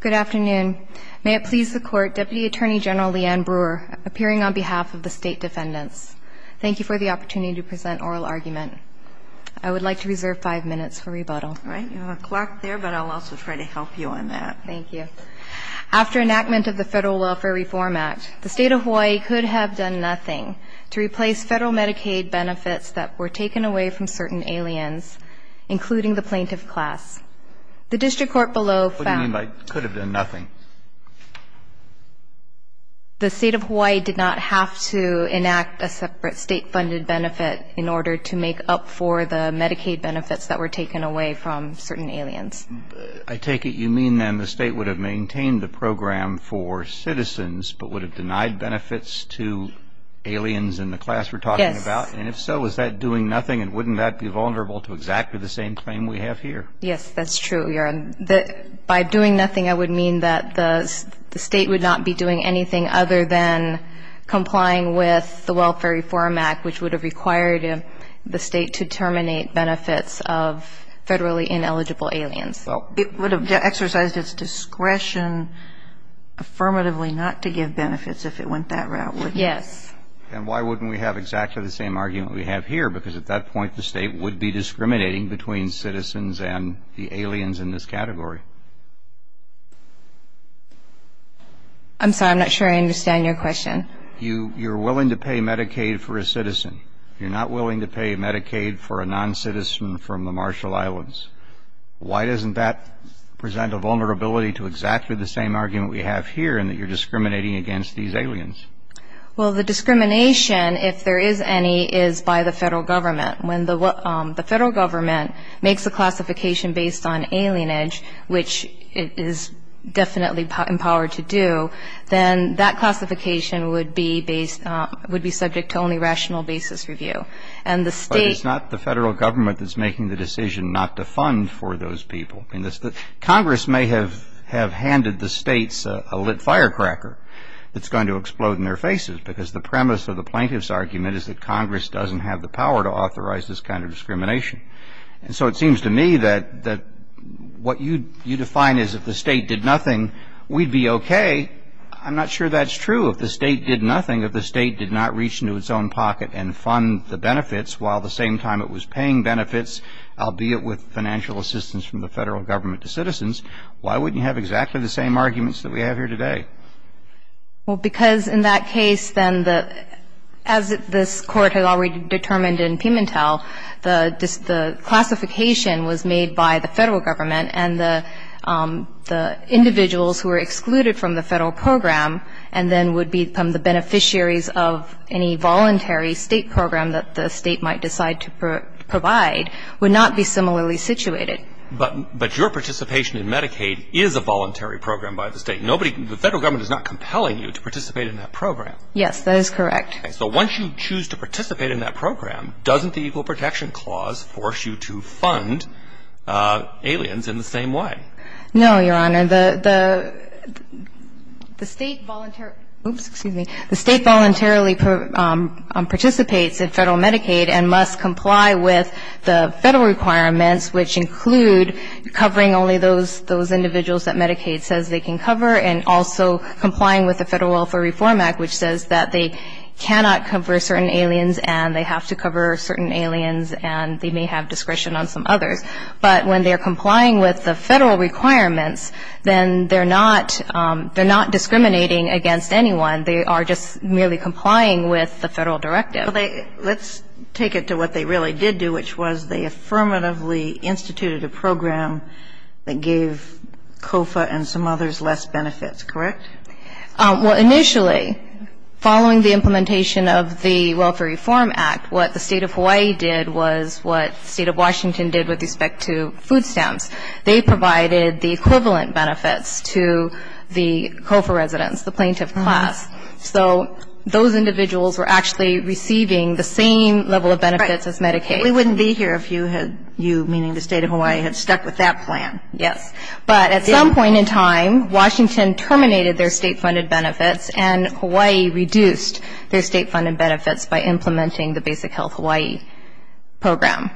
Good afternoon, may it please the court Deputy Attorney General Leanne Brewer appearing on behalf of the state defendants Thank you for the opportunity to present oral argument. I would like to reserve five minutes for rebuttal All right, you have a clock there, but I'll also try to help you on that. Thank you After enactment of the Federal Welfare Reform Act the state of Hawaii could have done nothing to replace federal Medicaid Benefits that were taken away from certain aliens including the plaintiff class The district court below found... What do you mean by could have done nothing? The state of Hawaii did not have to enact a separate state funded benefit in order to make up for the Medicaid benefits that were taken away from certain aliens I take it you mean then the state would have maintained the program for citizens, but would have denied benefits to Aliens in the class we're talking about and if so, is that doing nothing and wouldn't that be vulnerable to exactly the same claim We have here. Yes, that's true. You're that by doing nothing. I would mean that the state would not be doing anything other than complying with the Welfare Reform Act, which would have required him the state to terminate benefits of Federally ineligible aliens. Well, it would have exercised its discretion Affirmatively not to give benefits if it went that route Yes And why wouldn't we have exactly the same argument we have here because at that point the state would be Discriminating between citizens and the aliens in this category I'm sorry. I'm not sure I understand your question You you're willing to pay Medicaid for a citizen. You're not willing to pay Medicaid for a non-citizen from the Marshall Islands Why doesn't that present a vulnerability to exactly the same argument we have here and that you're discriminating against these aliens Well, the discrimination if there is any is by the federal government when the what the federal government makes a classification based on alien edge, which it is Definitely empowered to do then that classification would be based Would be subject to only rational basis review and the state's not the federal government That's making the decision not to fund for those people in this the Congress may have have handed the state's a lit firecracker That's going to explode in their faces because the premise of the plaintiff's argument is that Congress doesn't have the power to authorize this kind of discrimination and so it seems to me that that What you you define is if the state did nothing we'd be okay I'm not sure that's true if the state did nothing if the state did not reach into its own pocket and fund the benefits while The same time it was paying benefits. I'll be it with financial assistance from the federal government to citizens Why wouldn't you have exactly the same arguments that we have here today? well, because in that case then the as this court has already determined in Pimentel the classification was made by the federal government and the the individuals who are excluded from the federal program and then would become the Beneficiaries of any voluntary state program that the state might decide to provide would not be similarly situated But but your participation in Medicaid is a voluntary program by the state Nobody the federal government is not compelling you to participate in that program. Yes, that is correct So once you choose to participate in that program, doesn't the Equal Protection Clause force you to fund? Aliens in the same way. No, your honor the the the state the state voluntarily participates in federal Medicaid and must comply with the federal requirements which include Covering only those those individuals that Medicaid says they can cover and also complying with the Federal Welfare Reform Act Which says that they cannot cover certain aliens and they have to cover certain aliens and they may have discretion on some others But when they are complying with the federal requirements, then they're not They're not discriminating against anyone. They are just merely complying with the federal directive Let's take it to what they really did do which was they affirmatively instituted a program that gave COFA and some others less benefits, correct? well initially following the implementation of the Welfare Reform Act What the state of Hawaii did was what state of Washington did with respect to food stamps They provided the equivalent benefits to the COFA residents the plaintiff class So those individuals were actually receiving the same level of benefits as Medicaid We wouldn't be here if you had you meaning the state of Hawaii had stuck with that plan Yes but at some point in time Washington terminated their state funded benefits and Hawaii reduced their state funded benefits by implementing the basic health Hawaii program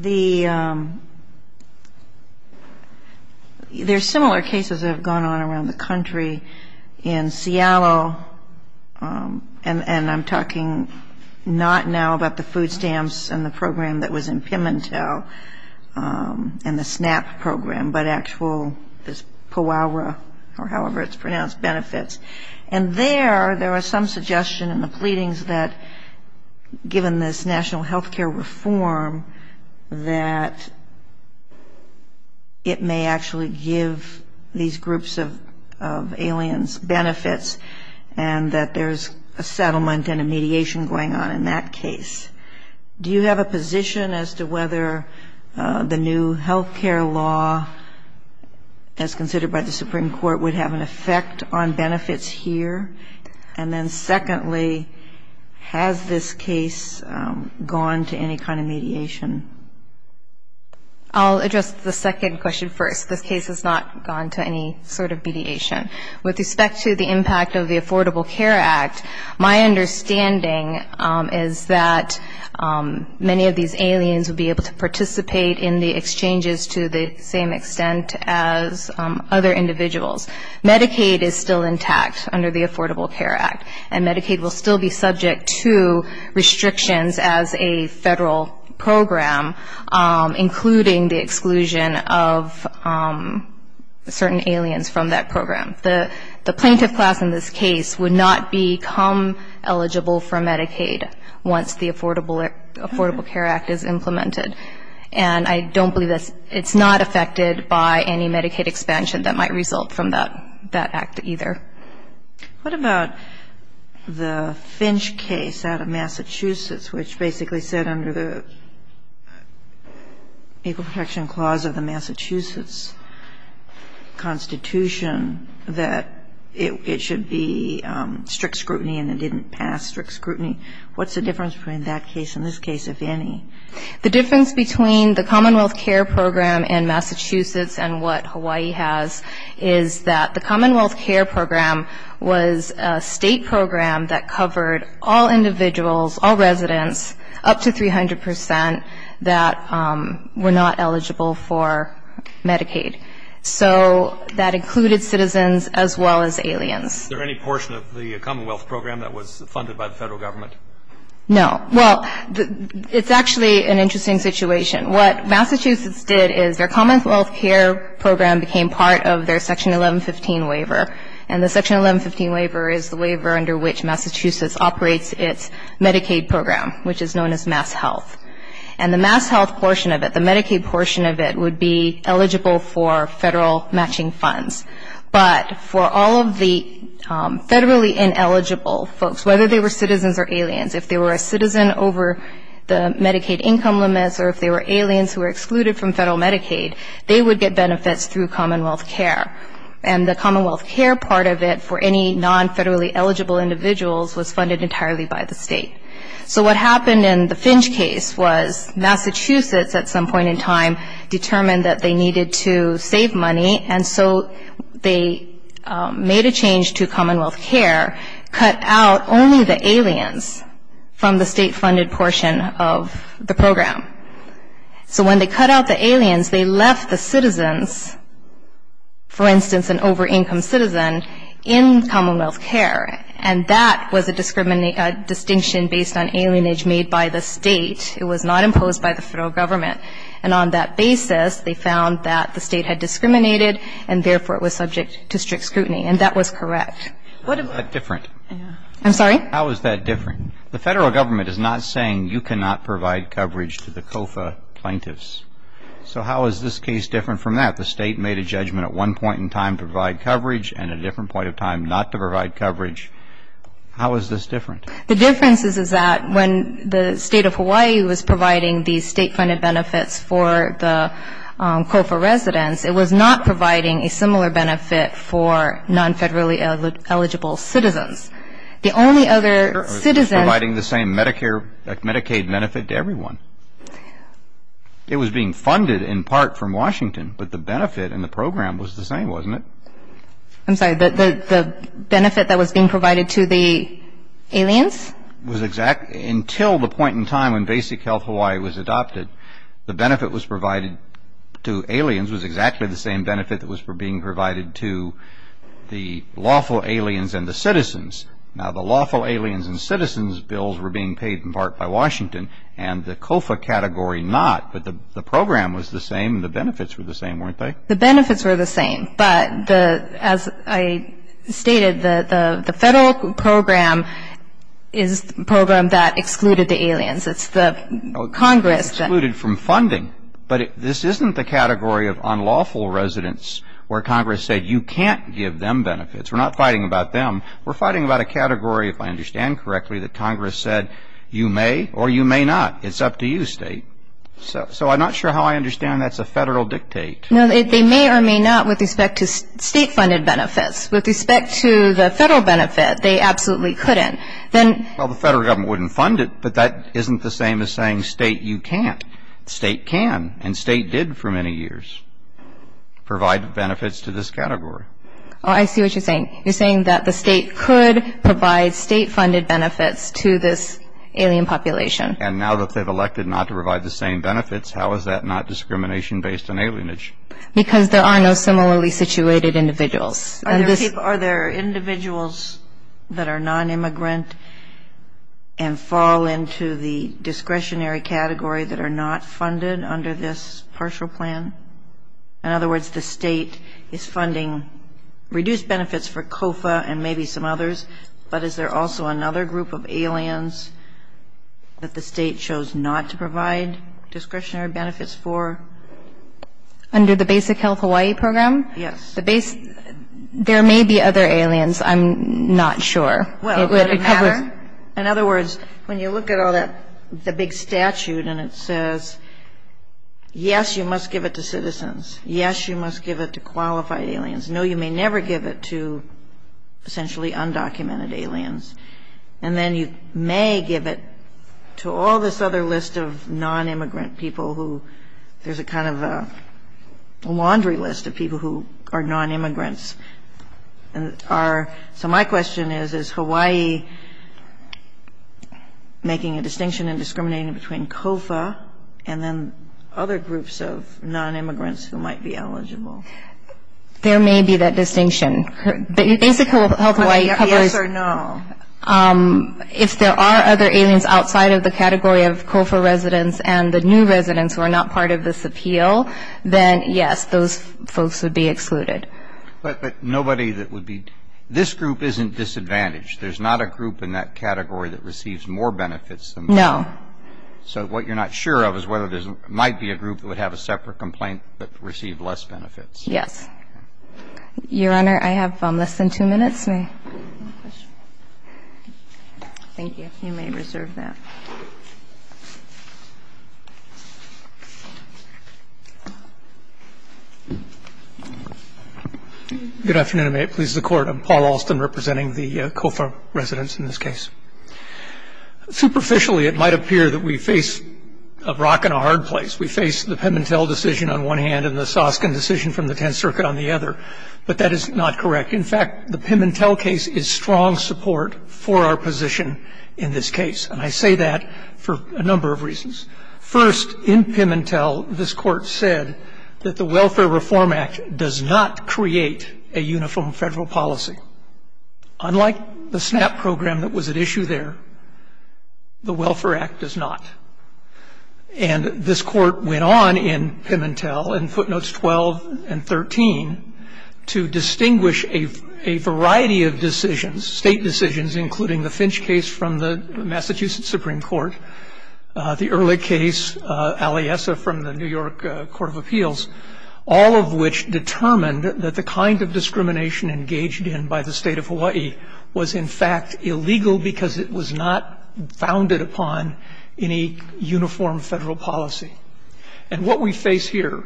The The There's similar cases have gone on around the country in Seattle And and I'm talking not now about the food stamps and the program that was in Pimentel and the SNAP program but actual this Powara or however, it's pronounced benefits and there there was some suggestion in the pleadings that given this national health care reform That It may actually give these groups of Aliens benefits and that there's a settlement and a mediation going on in that case Do you have a position as to whether? the new health care law As considered by the Supreme Court would have an effect on benefits here. And then secondly Has this case? Gone to any kind of mediation I'll address the second question first This case has not gone to any sort of mediation with respect to the impact of the Affordable Care Act. My understanding is that many of these aliens would be able to participate in the exchanges to the same extent as other individuals Medicaid is still intact under the Affordable Care Act and Medicaid will still be subject to restrictions as a federal program including the exclusion of Certain aliens from that program the the plaintiff class in this case would not become eligible for Medicaid once the Affordable Affordable Care Act is implemented and I don't believe this it's not affected by any Medicaid expansion that might result from that that act either What about? The Finch case out of Massachusetts, which basically said under the Equal protection clause of the Massachusetts Constitution that it should be Strict scrutiny and it didn't pass strict scrutiny. What's the difference between that case in this case if any? the difference between the Commonwealth care program in Massachusetts and what Hawaii has is that the Commonwealth care program was state program that covered all individuals all residents up to 300 percent that were not eligible for Medicaid so that included citizens as well as aliens there any portion of the Commonwealth program that was No, well It's actually an interesting situation What Massachusetts did is their Commonwealth care program became part of their section 1115 waiver? And the section 1115 waiver is the waiver under which Massachusetts operates its Medicaid program Which is known as MassHealth and the MassHealth portion of it the Medicaid portion of it would be eligible for federal matching funds but for all of the federally ineligible folks whether they were citizens or aliens if they were a citizen over The Medicaid income limits or if they were aliens who were excluded from federal Medicaid They would get benefits through Commonwealth care and the Commonwealth care part of it for any non federally eligible Individuals was funded entirely by the state. So what happened in the Finch case was Massachusetts at some point in time determined that they needed to save money and so they Made a change to Commonwealth care cut out only the aliens from the state funded portion of the program So when they cut out the aliens they left the citizens for instance an over-income citizen in Commonwealth care and that was a discriminate distinction based on alien age made by the state It was not imposed by the federal government and on that basis They found that the state had discriminated and therefore it was subject to strict scrutiny and that was correct. What is that different? I'm sorry. How is that different? The federal government is not saying you cannot provide coverage to the COFA plaintiffs So how is this case different from that the state made a judgment at one point in time to provide coverage and a different point of time not to provide coverage how is this different the difference is is that when the state of Hawaii was providing these state funded benefits for the COFA residents it was not providing a similar benefit for non federally eligible Citizens the only other citizens providing the same Medicare Medicaid benefit to everyone It was being funded in part from Washington, but the benefit and the program was the same wasn't it? I'm sorry that the benefit that was being provided to the Aliens was exact until the point in time when basic health Hawaii was adopted the benefit was provided to aliens was exactly the same benefit that was for being provided to The lawful aliens and the citizens now the lawful aliens and citizens bills were being paid in part by Washington and the COFA category not but the the program was the same the benefits were the same weren't they the benefits were the same but the as I stated the the federal program is Program that excluded the aliens. It's the Congress that looted from funding But this isn't the category of unlawful residents where Congress said you can't give them benefits. We're not fighting about them We're fighting about a category if I understand correctly that Congress said you may or you may not it's up to you state So so I'm not sure how I understand. That's a federal dictate No, they may or may not with respect to state funded benefits with respect to the federal benefit They absolutely couldn't then well the federal government wouldn't fund it But that isn't the same as saying state you can't state can and state did for many years Provide benefits to this category. I see what you're saying You're saying that the state could provide state funded benefits to this alien population And now that they've elected not to provide the same benefits. How is that not discrimination based on alienage? Because there are no similarly situated individuals Are there individuals? that are non-immigrant and Fall into the discretionary category that are not funded under this partial plan In other words, the state is funding Reduced benefits for Kofa and maybe some others, but is there also another group of aliens? That the state chose not to provide discretionary benefits for Under the basic health Hawaii program. Yes the base There may be other aliens, I'm not sure In other words when you look at all that the big statute and it says Yes, you must give it to citizens. Yes, you must give it to qualified aliens. No, you may never give it to Essentially undocumented aliens and then you may give it to all this other list of non-immigrant people who? there's a kind of a Laundry list of people who are non-immigrants and are so my question is is Hawaii Making a distinction in discriminating between Kofa and then other groups of non-immigrants who might be eligible There may be that distinction Basically, yes or no If there are other aliens outside of the category of Kofa residents and the new residents who are not part of this appeal Then yes, those folks would be excluded But nobody that would be this group isn't disadvantaged. There's not a group in that category that receives more benefits. No So what you're not sure of is whether there's might be a group that would have a separate complaint, but receive less benefits. Yes Your honor. I have less than two minutes Thank you, you may reserve that Good afternoon, it pleases the court. I'm Paul Alston representing the Kofa residents in this case Superficially it might appear that we face a rock and a hard place We face the Pimentel decision on one hand and the Soskin decision from the Tenth Circuit on the other But that is not correct In fact, the Pimentel case is strong support for our position in this case And I say that for a number of reasons first in Pimentel this court says That the Welfare Reform Act does not create a uniform federal policy Unlike the SNAP program that was at issue there the Welfare Act does not and this court went on in Pimentel in footnotes 12 and 13 to Distinguish a variety of decisions state decisions including the Finch case from the Massachusetts Supreme Court The early case Aliesa from the New York Court of Appeals All of which determined that the kind of discrimination engaged in by the state of Hawaii was in fact illegal because it was not founded upon any Uniform federal policy and what we face here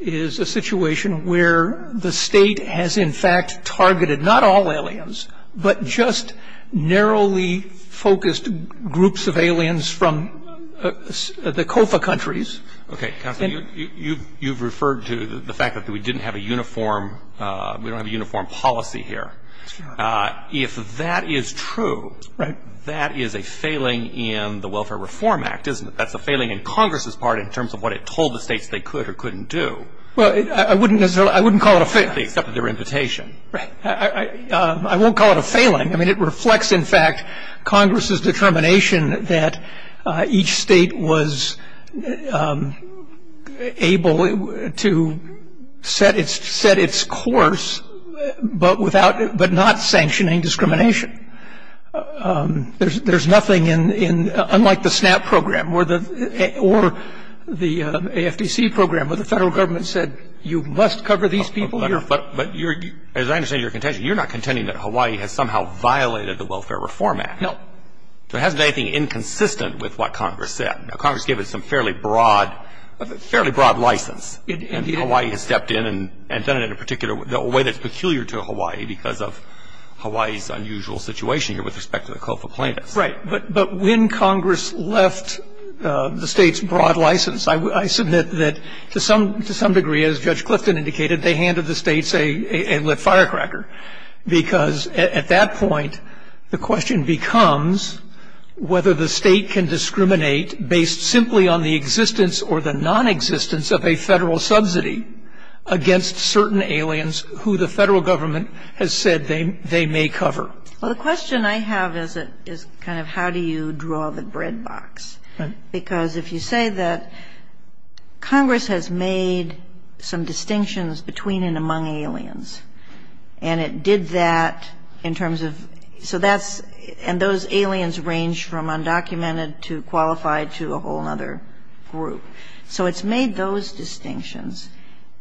is a situation where the state has in fact targeted not all aliens, but just Narrowly focused groups of aliens from The Kofa countries. Okay, you you've referred to the fact that we didn't have a uniform We don't have a uniform policy here If that is true, right that is a failing in the Welfare Reform Act, isn't it? That's a failing in Congress's part in terms of what it told the states they could or couldn't do Well, I wouldn't necessarily I wouldn't call it a fail except their invitation, right? I won't call it a failing. I mean it reflects in fact Congress's determination that each state was Able to set its set its course but without but not sanctioning discrimination there's there's nothing in in unlike the snap program where the or The AFDC program where the federal government said you must cover these people here But but you're as I understand your contention, you're not contending that Hawaii has somehow violated the Welfare Reform Act. No There hasn't anything inconsistent with what Congress said Congress gave it some fairly broad fairly broad license and the Hawaii has stepped in and and done it in a particular way that's peculiar to Hawaii because of Hawaii's unusual situation here with respect to the Kofa plaintiffs, right but but when Congress left The state's broad license I submit that to some to some degree as Judge Clifton indicated they handed the state's a lit firecracker because at that point the question becomes Whether the state can discriminate based simply on the existence or the non-existence of a federal subsidy Against certain aliens who the federal government has said they they may cover Well, the question I have is it is kind of how do you draw the bread box because if you say that Congress has made some distinctions between and among aliens and It did that in terms of so that's and those aliens range from undocumented to qualified to a whole other Group, so it's made those distinctions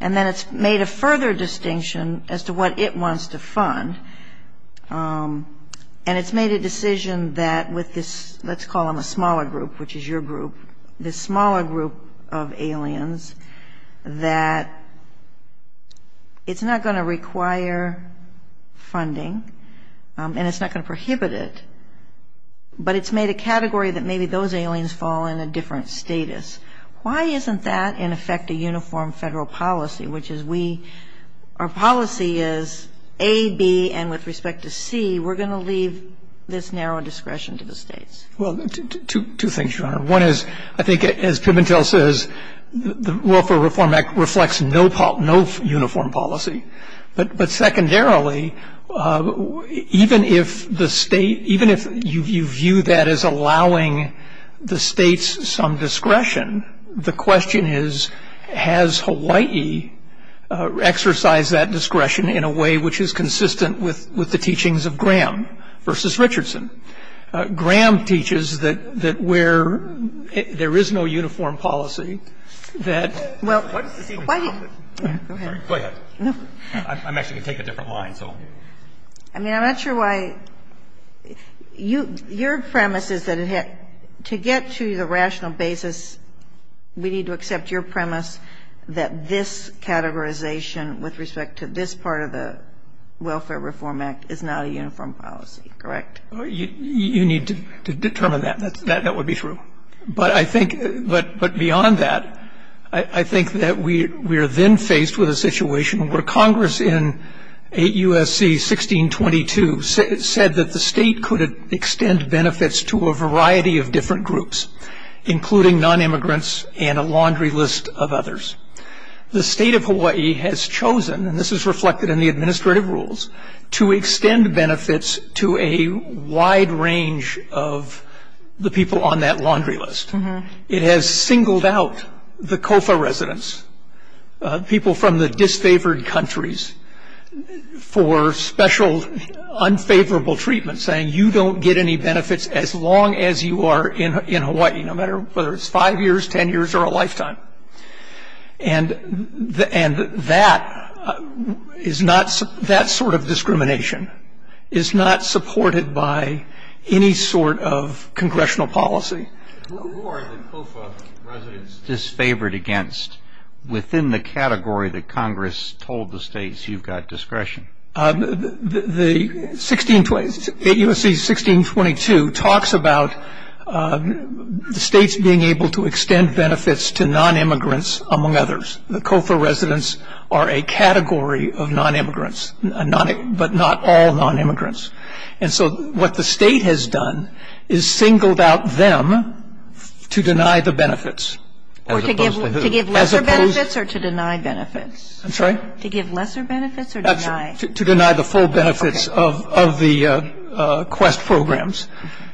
and then it's made a further distinction as to what it wants to fund And it's made a decision that with this let's call them a smaller group Which is your group this smaller group of aliens? that It's not going to require Funding and it's not going to prohibit it But it's made a category that maybe those aliens fall in a different status Why isn't that in effect a uniform federal policy? Which is we our policy is a B and with respect to C We're going to leave this narrow discretion to the states Well two things your honor one is I think as Pimentel says The Welfare Reform Act reflects no pop no uniform policy, but but secondarily Even if the state even if you view that as allowing The state's some discretion the question is has Hawaii Exercised that discretion in a way, which is consistent with with the teachings of Graham versus Richardson Graham teaches that that where There is no uniform policy that well I mean, I'm not sure why You your premise is that it had to get to the rational basis We need to accept your premise that this Categorization with respect to this part of the Welfare Reform Act is not a uniform policy, correct? You need to determine that that's that that would be true But I think but but beyond that I I think that we we are then faced with a situation where Congress in a USC 1622 said that the state could extend benefits to a variety of different groups Including non-immigrants and a laundry list of others the state of Hawaii has chosen and this is reflected in the administrative rules to extend benefits to a wide range of The people on that laundry list it has singled out the Kofa residents people from the disfavored countries for special Unfavorable treatment saying you don't get any benefits as long as you are in in Hawaii no matter whether it's five years ten years or a lifetime and the end that Is not that sort of discrimination is not supported by any sort of congressional policy Disfavored against within the category that Congress told the states you've got discretion The 1628 USC 1622 talks about The state's being able to extend benefits to non-immigrants among others the Kofa residents are a category of non-immigrants But not all non-immigrants. And so what the state has done is singled out them to deny the benefits Or to deny benefits, I'm sorry To deny the full benefits of the Quest programs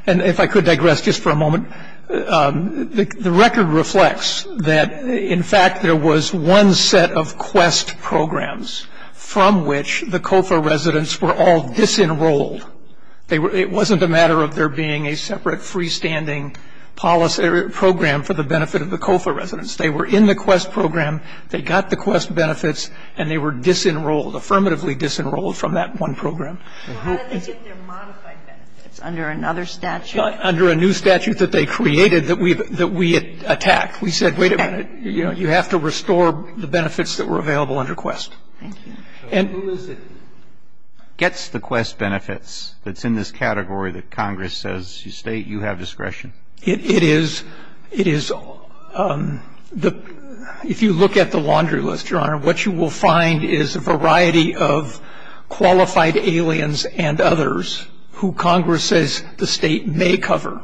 and if I could digress just for a moment The record reflects that in fact, there was one set of quest programs From which the Kofa residents were all disenrolled They were it wasn't a matter of there being a separate freestanding Policy program for the benefit of the Kofa residents. They were in the quest program They got the quest benefits and they were disenrolled affirmatively disenrolled from that one program Under another statute under a new statute that they created that we that we had attacked We said wait a minute, you know, you have to restore the benefits that were available under quest and Gets the quest benefits that's in this category that Congress says you state you have discretion. It is it is The if you look at the laundry list your honor what you will find is a variety of Qualified aliens and others who Congress says the state may cover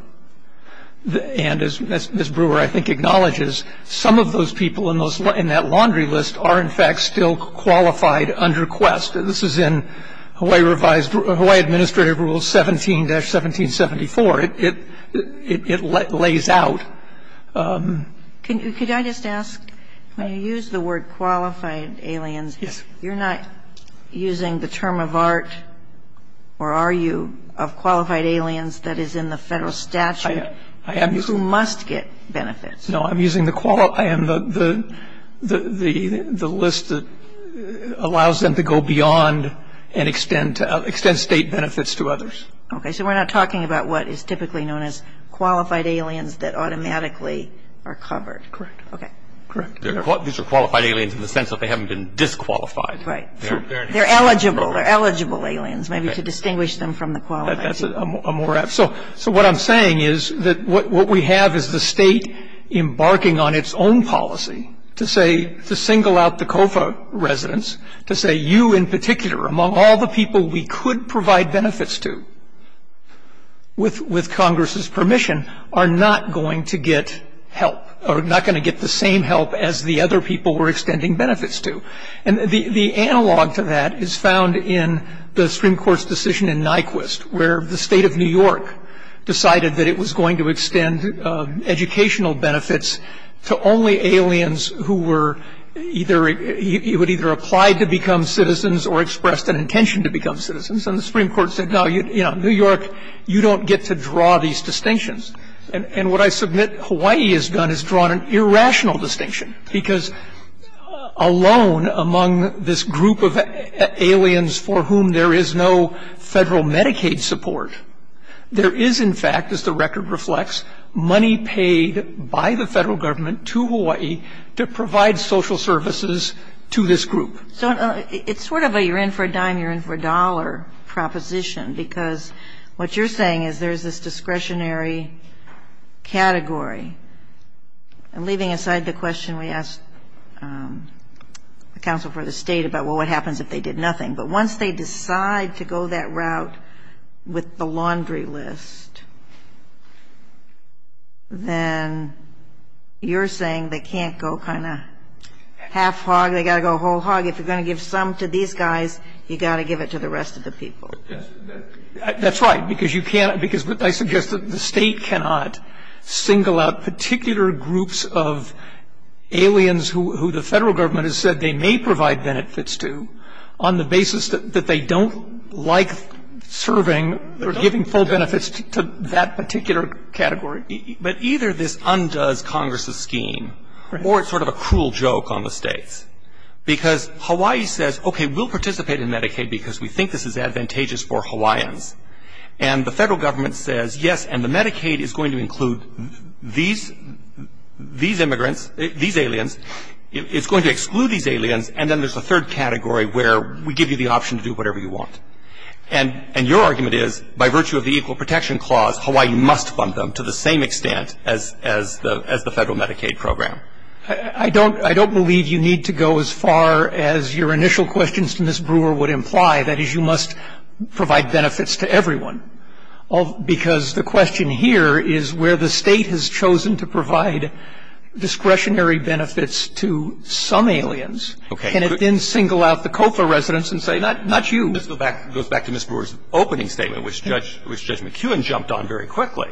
The and as Miss Brewer I think acknowledges some of those people in those in that laundry list are in fact still qualified under quest This is in Hawaii revised Hawaii administrative rules 17-17 74 it It lays out Can you could I just ask when you use the word qualified aliens, yes, you're not using the term of art Or are you of qualified aliens that is in the federal statute? I am you must get benefits no, I'm using the quality and the the the the list that Allows them to go beyond and extend to extend state benefits to others Okay, so we're not talking about what is typically known as qualified aliens that automatically Are covered correct? Okay, correct. These are qualified aliens in the sense that they haven't been disqualified, right? They're eligible. They're eligible aliens maybe to distinguish them from the quality That's a more F. So so what I'm saying is that what we have is the state Embarking on its own policy to say to single out the Kofa Residents to say you in particular among all the people we could provide benefits to With with Congress's permission are not going to get help or not going to get the same help as the other people were extending benefits to and The the analog to that is found in the Supreme Court's decision in Nyquist where the state of New York? Decided that it was going to extend educational benefits to only aliens who were Either he would either apply to become citizens or expressed an intention to become citizens and the Supreme Court said no you Know New York you don't get to draw these distinctions and and what I submit Hawaii has done is drawn an irrational distinction because alone among this group of Aliens for whom there is no federal Medicaid support There is in fact as the record reflects money paid by the federal government to Hawaii to provide social Services to this group, so it's sort of a you're in for a dime. You're in for a dollar Proposition because what you're saying is there's this discretionary Category and leaving aside the question we asked The council for the state about what happens if they did nothing, but once they decide to go that route with the laundry list Then You're saying they can't go kind of Half-hog they gotta go whole hog if you're gonna give some to these guys you got to give it to the rest of the people That's right because you can't because what I suggest that the state cannot single out particular groups of Aliens who the federal government has said they may provide benefits to on the basis that they don't like Serving they're giving full benefits to that particular category But either this undoes Congress's scheme or it's sort of a cruel joke on the states because Hawaii says okay, we'll participate in Medicaid because we think this is advantageous for Hawaiians and The federal government says yes, and the Medicaid is going to include these These immigrants these aliens it's going to exclude these aliens and then there's a third category where we give you the option to do whatever you want and Your argument is by virtue of the Equal Protection Clause Hawaii must fund them to the same extent as as the as the federal Medicaid Program, I don't I don't believe you need to go as far as your initial questions to miss brewer would imply that is you must Provide benefits to everyone. Oh Because the question here is where the state has chosen to provide Discretionary benefits to some aliens, okay And then single out the Kofa residents and say not not you Let's go back goes back to miss Brewer's opening statement, which judge which judge McEwen jumped on very quickly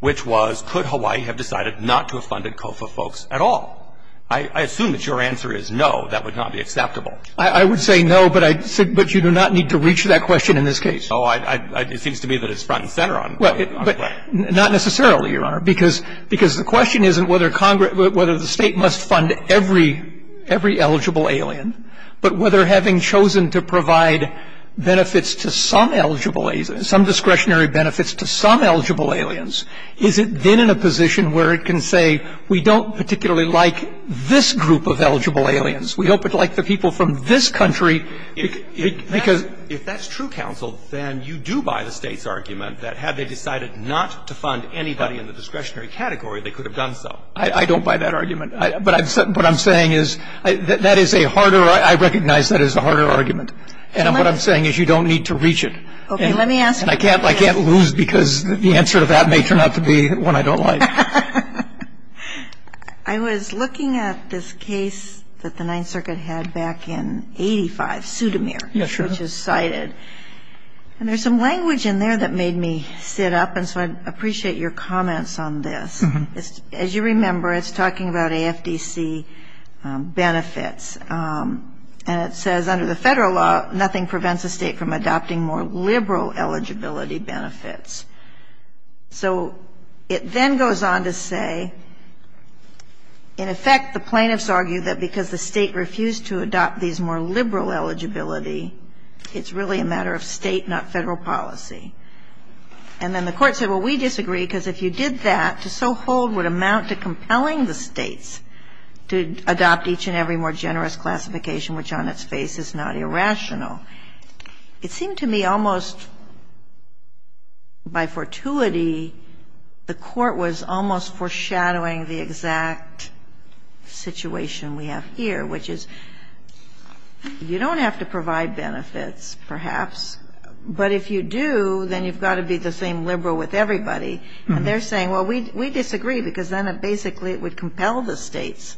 Which was could Hawaii have decided not to have funded Kofa folks at all? I assume that your answer is no that would not be acceptable I would say no, but I said but you do not need to reach that question in this case Oh, I it seems to me that it's front and center on well but not necessarily your honor because because the question isn't whether Congress whether the state must fund every Every eligible alien, but whether having chosen to provide Benefits to some eligible agents some discretionary benefits to some eligible aliens Is it been in a position where it can say we don't particularly like this group of eligible aliens? We hope it like the people from this country Because if that's true counsel, then you do buy the state's argument that had they decided not to fund anybody in the discretionary category I don't buy that argument. But I've said what I'm saying is that that is a harder I recognize that is a harder argument. And what I'm saying is you don't need to reach it Okay, let me ask and I can't I can't lose because the answer to that may turn out to be when I don't like I Was looking at this case that the Ninth Circuit had back in 85 pseudomere. Yes, which is cited And there's some language in there that made me sit up and so I appreciate your comments on this As you remember it's talking about a FTC Benefits and it says under the federal law. Nothing prevents a state from adopting more liberal eligibility benefits So it then goes on to say In effect the plaintiffs argue that because the state refused to adopt these more liberal eligibility it's really a matter of state not federal policy and Amount to compelling the states to adopt each and every more generous classification, which on its face is not irrational It seemed to me almost By fortuity the court was almost foreshadowing the exact Situation we have here, which is You don't have to provide benefits perhaps But if you do then you've got to be the same liberal with everybody and they're saying well We disagree because then it basically it would compel the states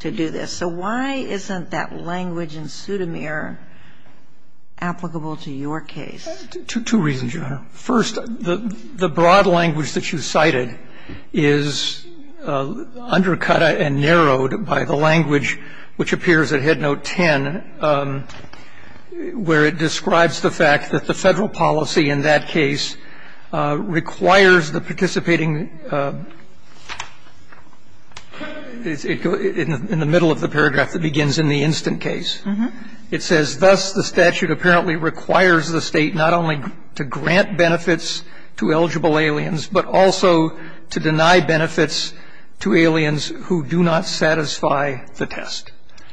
to do this. So why isn't that language in pseudomere? Applicable to your case two reasons. You are first the the broad language that you cited is Undercut and narrowed by the language which appears at head note 10 Where it describes the fact that the federal policy in that case Requires the participating Is it in the middle of the paragraph that begins in the instant case It says thus the statute apparently requires the state not only to grant benefits to eligible aliens But also to deny benefits to aliens who do not satisfy the test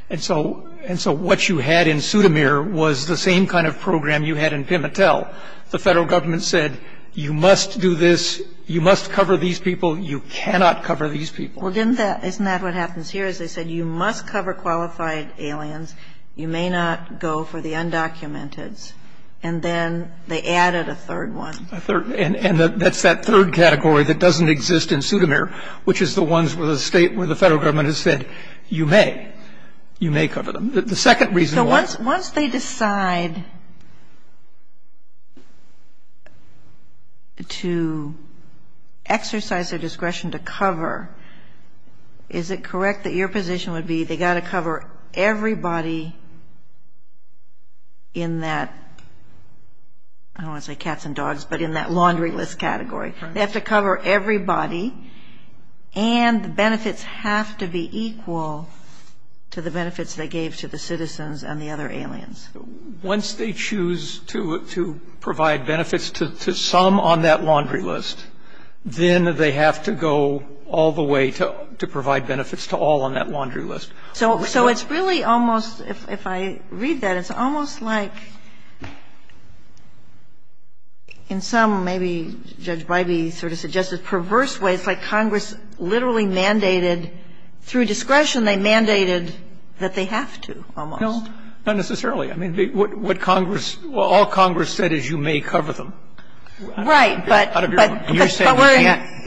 And so and so what you had in pseudomere was the same kind of program you had in Pimattel The federal government said you must do this you must cover these people you cannot cover these people Well, didn't that isn't that what happens here is they said you must cover qualified aliens You may not go for the undocumented and then they added a third one third And and that's that third category that doesn't exist in pseudomere Which is the ones with a state where the federal government has said you may You may cover them the second reason once once they decide To Exercise their discretion to cover is it correct that your position would be they got to cover everybody In that I Don't say cats and dogs, but in that laundry list category. They have to cover everybody and The benefits have to be equal To the benefits they gave to the citizens and the other aliens Once they choose to to provide benefits to some on that laundry list Then they have to go all the way to to provide benefits to all on that laundry list So so it's really almost if I read that it's almost like In some maybe judge by be sort of suggested perverse ways like Congress literally mandated Through discretion they mandated that they have to know not necessarily I mean what what Congress well all Congress said is you may cover them right, but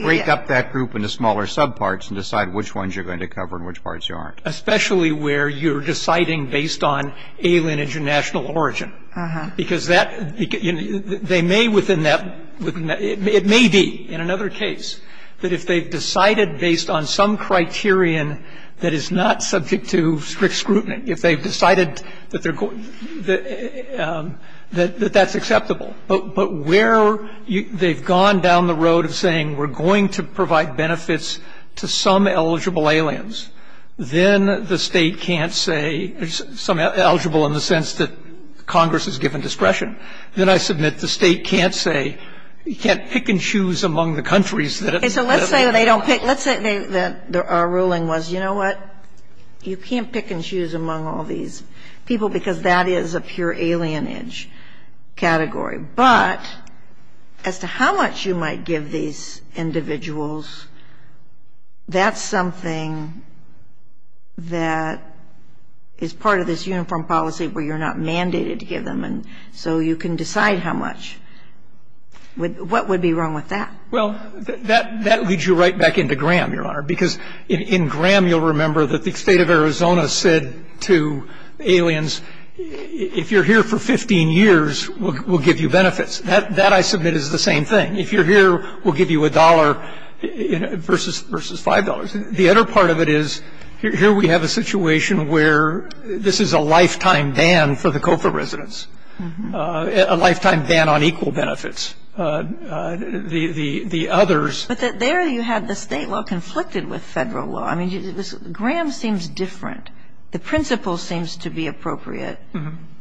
Break up that group into smaller subparts and decide which ones you're going to cover in which parts you aren't especially where you're deciding based on alien international origin because that They may within that It may be in another case that if they've decided based on some Criterion that is not subject to strict scrutiny if they've decided that they're going that That that's acceptable But but where you they've gone down the road of saying we're going to provide benefits to some eligible aliens Then the state can't say there's some eligible in the sense that Congress's given discretion then I submit the state can't say you can't pick and choose among the countries that it's a let's say They don't pick let's say that there are ruling was you know what? You can't pick and choose among all these people because that is a pure alien age category, but As to how much you might give these? individuals That's something that Is part of this uniform policy where you're not mandated to give them and so you can decide how much With what would be wrong with that? Well that that leads you right back into Graham your honor because in Graham you'll remember that the state of Arizona said to aliens If you're here for 15 years We'll give you benefits that that I submit is the same thing if you're here. We'll give you a dollar Versus versus $5 the other part of it is here. We have a situation where this is a lifetime ban for the COPA residents a lifetime ban on equal benefits The the the others but that there you had the state well conflicted with federal law I mean you Graham seems different the principle seems to be appropriate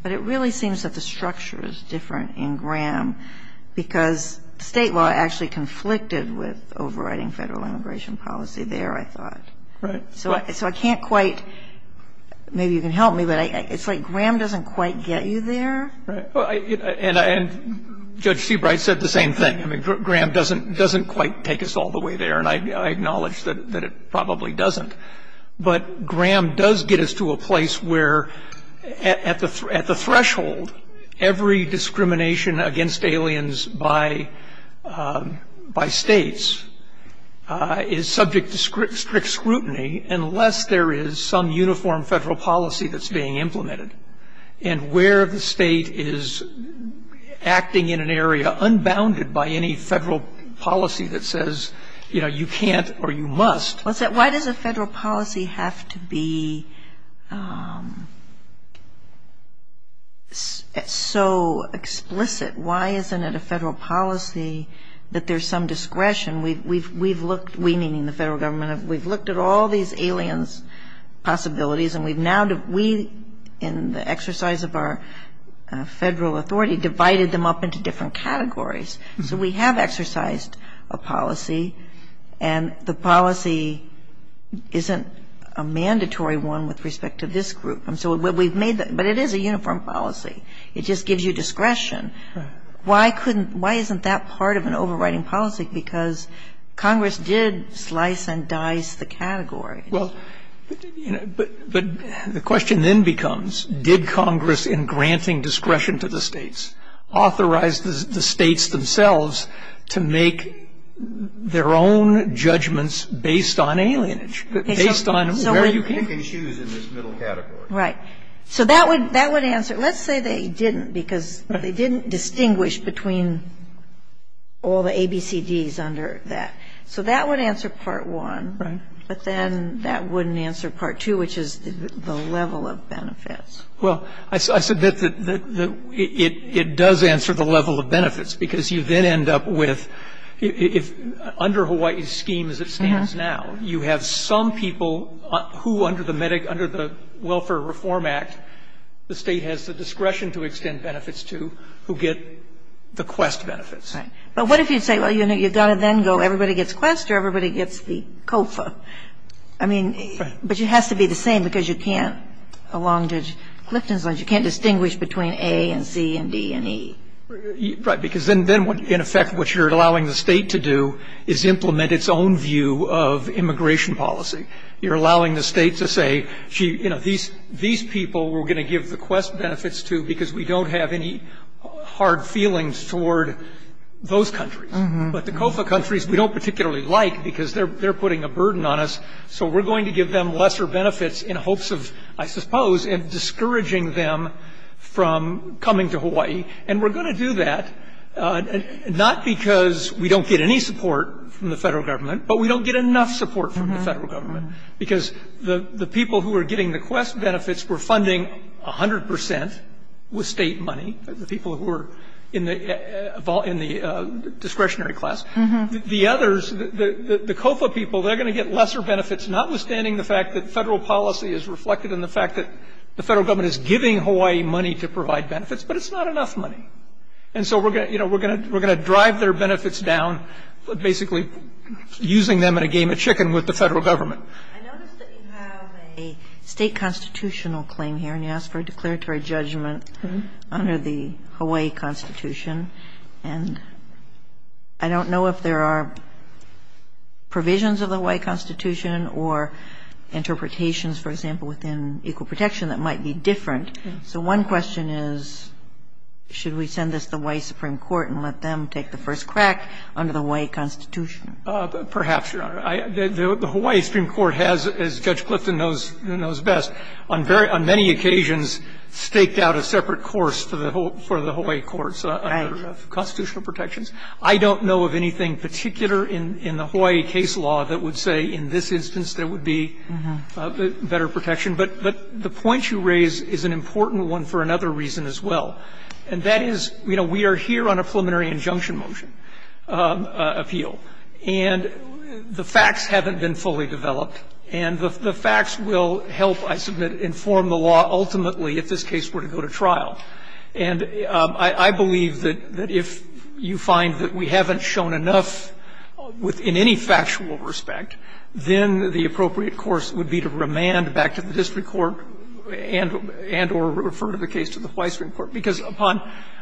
But it really seems that the structure is different in Graham Because state law actually conflicted with overriding federal immigration policy there I thought right so I can't quite Maybe you can help me, but I it's like Graham doesn't quite get you there and Judge Seabright said the same thing I mean Graham doesn't doesn't quite take us all the way there and I acknowledge that it probably doesn't but Graham does get us to a place where at the at the threshold Every discrimination against aliens by by states Is subject to strict strict scrutiny unless there is some uniform federal policy that's being implemented and where the state is Acting in an area unbounded by any federal policy that says you know you can't or you must What's that? Why does a federal policy have to be? It's So Explicit why isn't it a federal policy that there's some discretion? We've we've looked we meaning the federal government. We've looked at all these aliens possibilities, and we've now that we in the exercise of our Federal Authority divided them up into different categories, so we have exercised a policy and the policy Isn't a mandatory one with respect to this group, and so what we've made that, but it is a uniform policy It just gives you discretion Why couldn't why isn't that part of an overriding policy because? Congress did slice and dice the category well But but the question then becomes did Congress in granting discretion to the states authorized the states themselves to make Their own judgments based on alien Right so that would that would answer let's say they didn't because but they didn't distinguish between All the ABCD's under that so that would answer part one right, but then that wouldn't answer part two Which is the level of benefits well? I said that that it it does answer the level of benefits because you then end up with if under Hawaii's scheme as it stands now you have some people who under the medic under the Welfare Reform Act the state has the discretion to extend benefits to who get the quest benefits Right, but what if you'd say well, you know you've got to then go everybody gets quest or everybody gets the COFA I mean, but it has to be the same because you can't along judge Clifton's lines You can't distinguish between a and C and D and E Right because then then what in effect what you're allowing the state to do is implement its own view of immigration policy You're allowing the state to say gee you know these these people were going to give the quest benefits to because we don't have any hard feelings toward Those countries but the COFA countries we don't particularly like because they're they're putting a burden on us So we're going to give them lesser benefits in hopes of I suppose and discouraging them From coming to Hawaii and we're going to do that Not because we don't get any support from the federal government But we don't get enough support from the federal government because the the people who are getting the quest benefits were funding a hundred percent with state money the people who are in the in the discretionary class the others the the COFA people they're going to get lesser benefits notwithstanding the fact that federal policy is reflected in the The federal government is giving Hawaii money to provide benefits, but it's not enough money And so we're gonna you know we're gonna. We're gonna drive their benefits down basically using them in a game of chicken with the federal government a State constitutional claim here, and you ask for a declaratory judgment under the Hawaii Constitution, and I don't know if there are provisions of the Hawaii Constitution or Interpretations for example within equal protection that might be different so one question is Should we send this the way Supreme Court and let them take the first crack under the way Constitution perhaps? You know the Hawaii Supreme Court has as Judge Clifton knows knows best on very on many occasions Staked out a separate course for the whole for the Hawaii courts Constitutional protections, I don't know of anything particular in in the Hawaii case law that would say in this instance There would be Better protection, but but the point you raise is an important one for another reason as well And that is you know we are here on a preliminary injunction motion appeal and The facts haven't been fully developed and the facts will help I submit inform the law Ultimately if this case were to go to trial and I I believe that that if you find that we haven't shown enough Within any factual respect then the appropriate course would be to remand back to the district court And and or refer to the case to the Hawaii Supreme Court because upon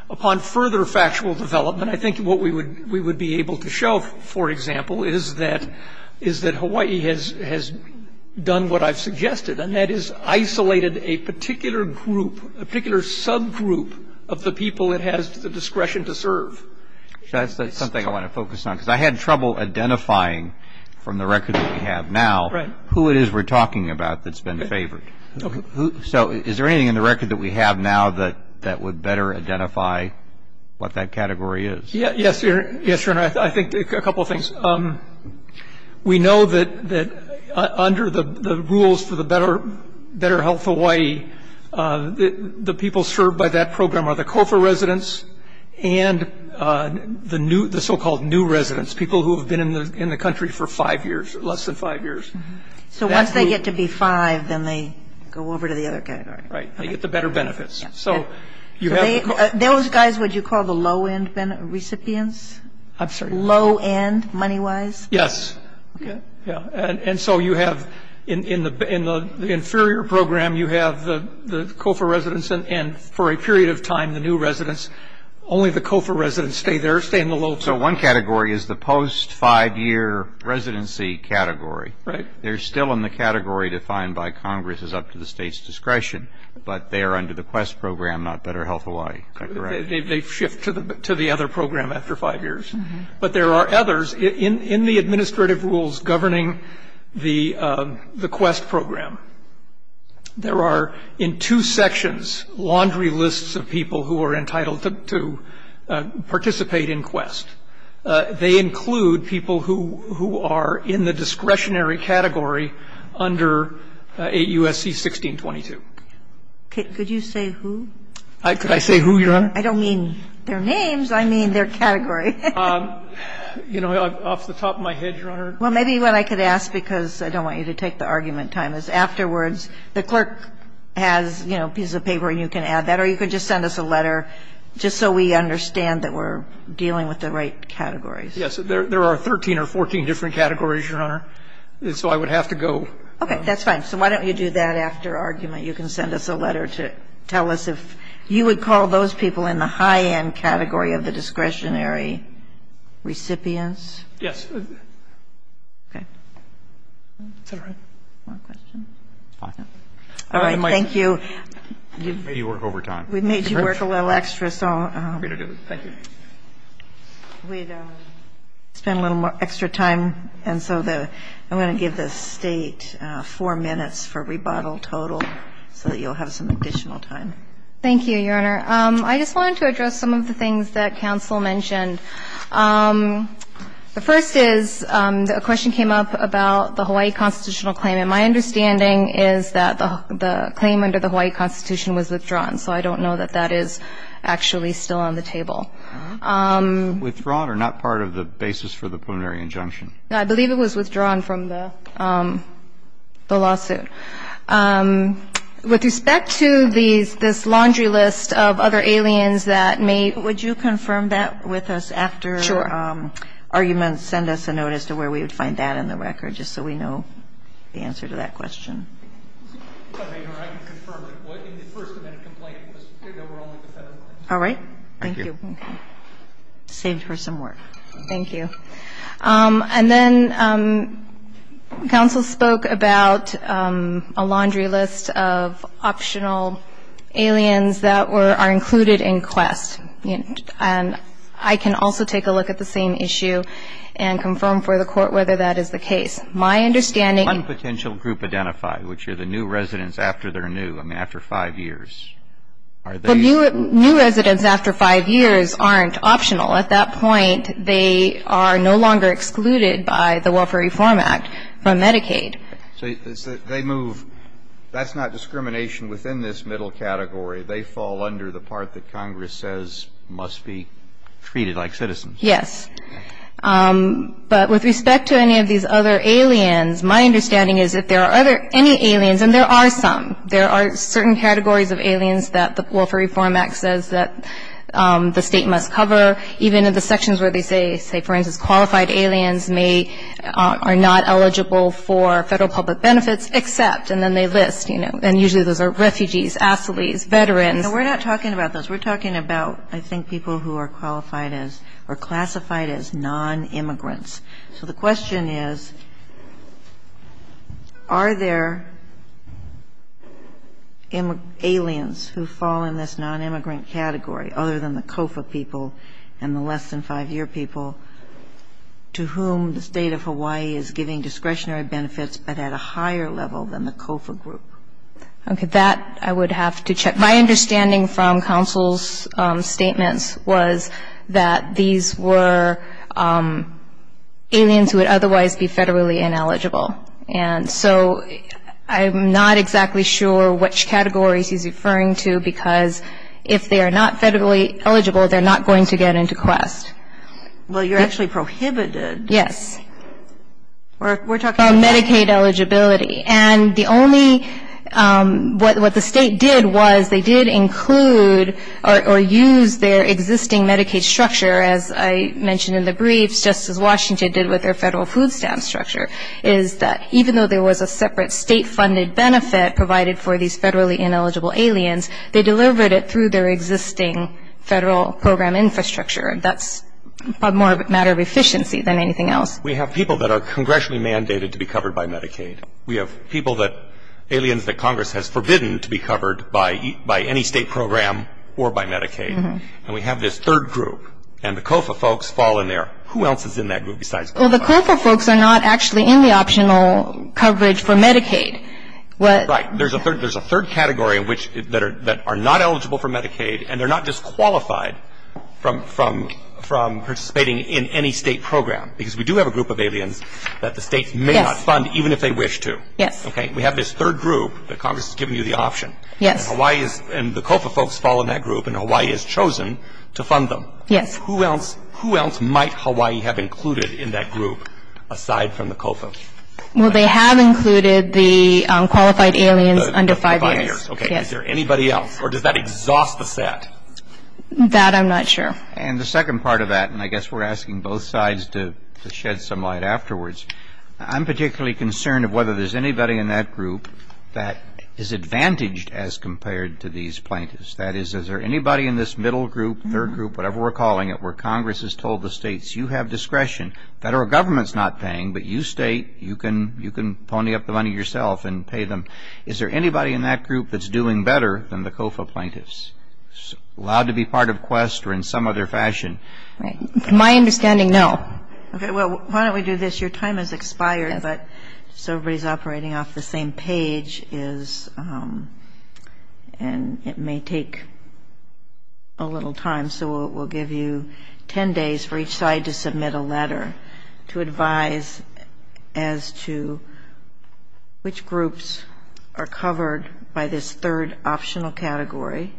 upon further factual development I think what we would we would be able to show for example is that is that Hawaii has has done what I've suggested and that is Isolated a particular group a particular subgroup of the people it has the discretion to serve That's that's something I want to focus on because I had trouble identifying From the record we have now right who it is we're talking about that's been favored Okay, so is there anything in the record that we have now that that would better identify? What that category is yeah? Yes, sir. Yes, sir, and I think a couple of things um We know that that under the rules for the better better health Hawaii the people served by that program are the Kofa residents and The new the so-called new residents people who have been in the in the country for five years less than five years So once they get to be five then they go over to the other category right they get the better benefits So you have those guys would you call the low-end been recipients? I'm sorry low-end money-wise yes Yeah, and so you have in in the in the inferior program You have the the Kofa residents and for a period of time the new residents Only the Kofa residents stay there stay in the low, so one category is the post five-year Residency category right there's still in the category defined by Congress is up to the state's discretion But they are under the quest program not better health Hawaii They shift to the to the other program after five years, but there are others in in the administrative rules governing the the quest program There are in two sections laundry lists of people who are entitled to participate in quest They include people who who are in the discretionary category under 8 USC 1622 Could you say who I could I say who your honor? I don't mean their names. I mean their category You know off the top of my head Afterwards the clerk has you know piece of paper, and you can add that or you could just send us a letter Just so we understand that we're dealing with the right categories. Yes, there are 13 or 14 different categories your honor So I would have to go okay. That's fine So why don't you do that after argument you can send us a letter to tell us if you would call those people in the high-end category of the discretionary Recipients yes All right, thank you We've made you work a little extra so It's been a little more extra time and so the I'm going to give this state Four minutes for rebuttal total so that you'll have some additional time. Thank you your honor I just wanted to address some of the things that counsel mentioned The first is a question came up about the Hawaii constitutional claim and my understanding is that the Claim under the Hawaii Constitution was withdrawn, so I don't know that that is actually still on the table Withdrawn or not part of the basis for the preliminary injunction. I believe it was withdrawn from the the lawsuit With respect to these this laundry list of other aliens that may would you confirm that with us? after Arguments send us a notice to where we would find that in the record just so we know the answer to that question All right, thank you Saved her some work. Thank you and then counsel spoke about a laundry list of optional Aliens that were are included in quest and and I can also take a look at the same issue and Confirm for the court whether that is the case my understanding potential group identify Which are the new residents after they're new I mean after five years Are they new residents after five years aren't optional at that point? They are no longer excluded by the Welfare Reform Act from Medicaid So they move That's not discrimination within this middle category. They fall under the part that Congress says must be treated like citizens. Yes But with respect to any of these other Aliens my understanding is that there are other any aliens and there are some there are certain categories of aliens that the Welfare Reform Act says that the state must cover even in the sections where they say say for instance qualified aliens may Are not eligible for federal public benefits except and then they list, you know, and usually those are refugees asylees veterans We're not talking about those. We're talking about I think people who are qualified as or classified as non-immigrants so the question is Are there In aliens who fall in this non-immigrant category other than the COFA people and the less than five-year people To whom the state of Hawaii is giving discretionary benefits, but at a higher level than the COFA group Okay that I would have to check my understanding from counsel's Statements was that these were Aliens who would otherwise be federally ineligible and so I'm not exactly sure which categories he's referring to because if they are not federally eligible They're not going to get into quest Well, you're actually prohibited. Yes We're talking about Medicaid eligibility and the only What the state did was they did include or use their existing Medicaid structure as I mentioned in the briefs Just as Washington did with their federal food stamp structure Is that even though there was a separate state funded benefit provided for these federally ineligible aliens They delivered it through their existing Federal program infrastructure and that's a more matter of efficiency than anything else We have people that are congressionally mandated to be covered by Medicaid We have people that aliens that Congress has forbidden to be covered by by any state program or by Medicaid And we have this third group and the COFA folks fall in there who else is in that group besides Well, the COFA folks are not actually in the optional coverage for Medicaid what right? There's a third category in which that are that are not eligible for Medicaid and they're not disqualified from from from Participating in any state program because we do have a group of aliens that the state may not fund even if they wish to yes Okay, we have this third group that Congress is giving you the option Yes, Hawaii's and the COFA folks fall in that group and Hawaii has chosen to fund them Yes, who else who else might Hawaii have included in that group aside from the COFA? Well, they have included the Qualified aliens under five years. Okay. Is there anybody else or does that exhaust the set? That I'm not sure and the second part of that and I guess we're asking both sides to shed some light afterwards I'm particularly concerned of whether there's anybody in that group that is Advantaged as compared to these plaintiffs that is is there anybody in this middle group third group? Whatever we're calling it where Congress has told the states you have discretion that our government's not paying But you state you can you can pony up the money yourself and pay them. Is there anybody in that group? That's doing better than the COFA plaintiffs Allowed to be part of quest or in some other fashion, right my understanding. No Why don't we do this? Your time has expired, but so everybody's operating off. The same page is and it may take a Advise as to Which groups are covered by this third optional category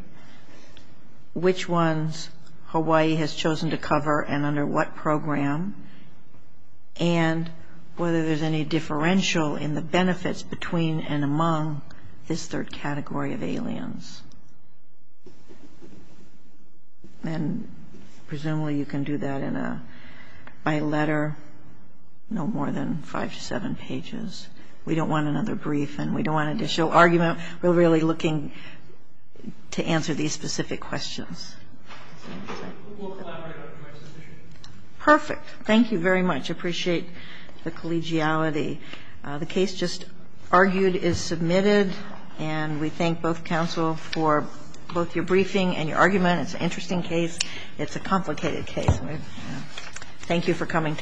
which ones Hawaii has chosen to cover and under what program and Whether there's any differential in the benefits between and among this third category of aliens And Presumably you can do that in a by letter No more than five to seven pages. We don't want another brief and we don't want to show argument. We're really looking to answer these specific questions Perfect thank you very much appreciate the collegiality The case just argued is submitted and we thank both counsel for both your briefing and your argument It's an interesting case. It's a complicated case Thank you for coming today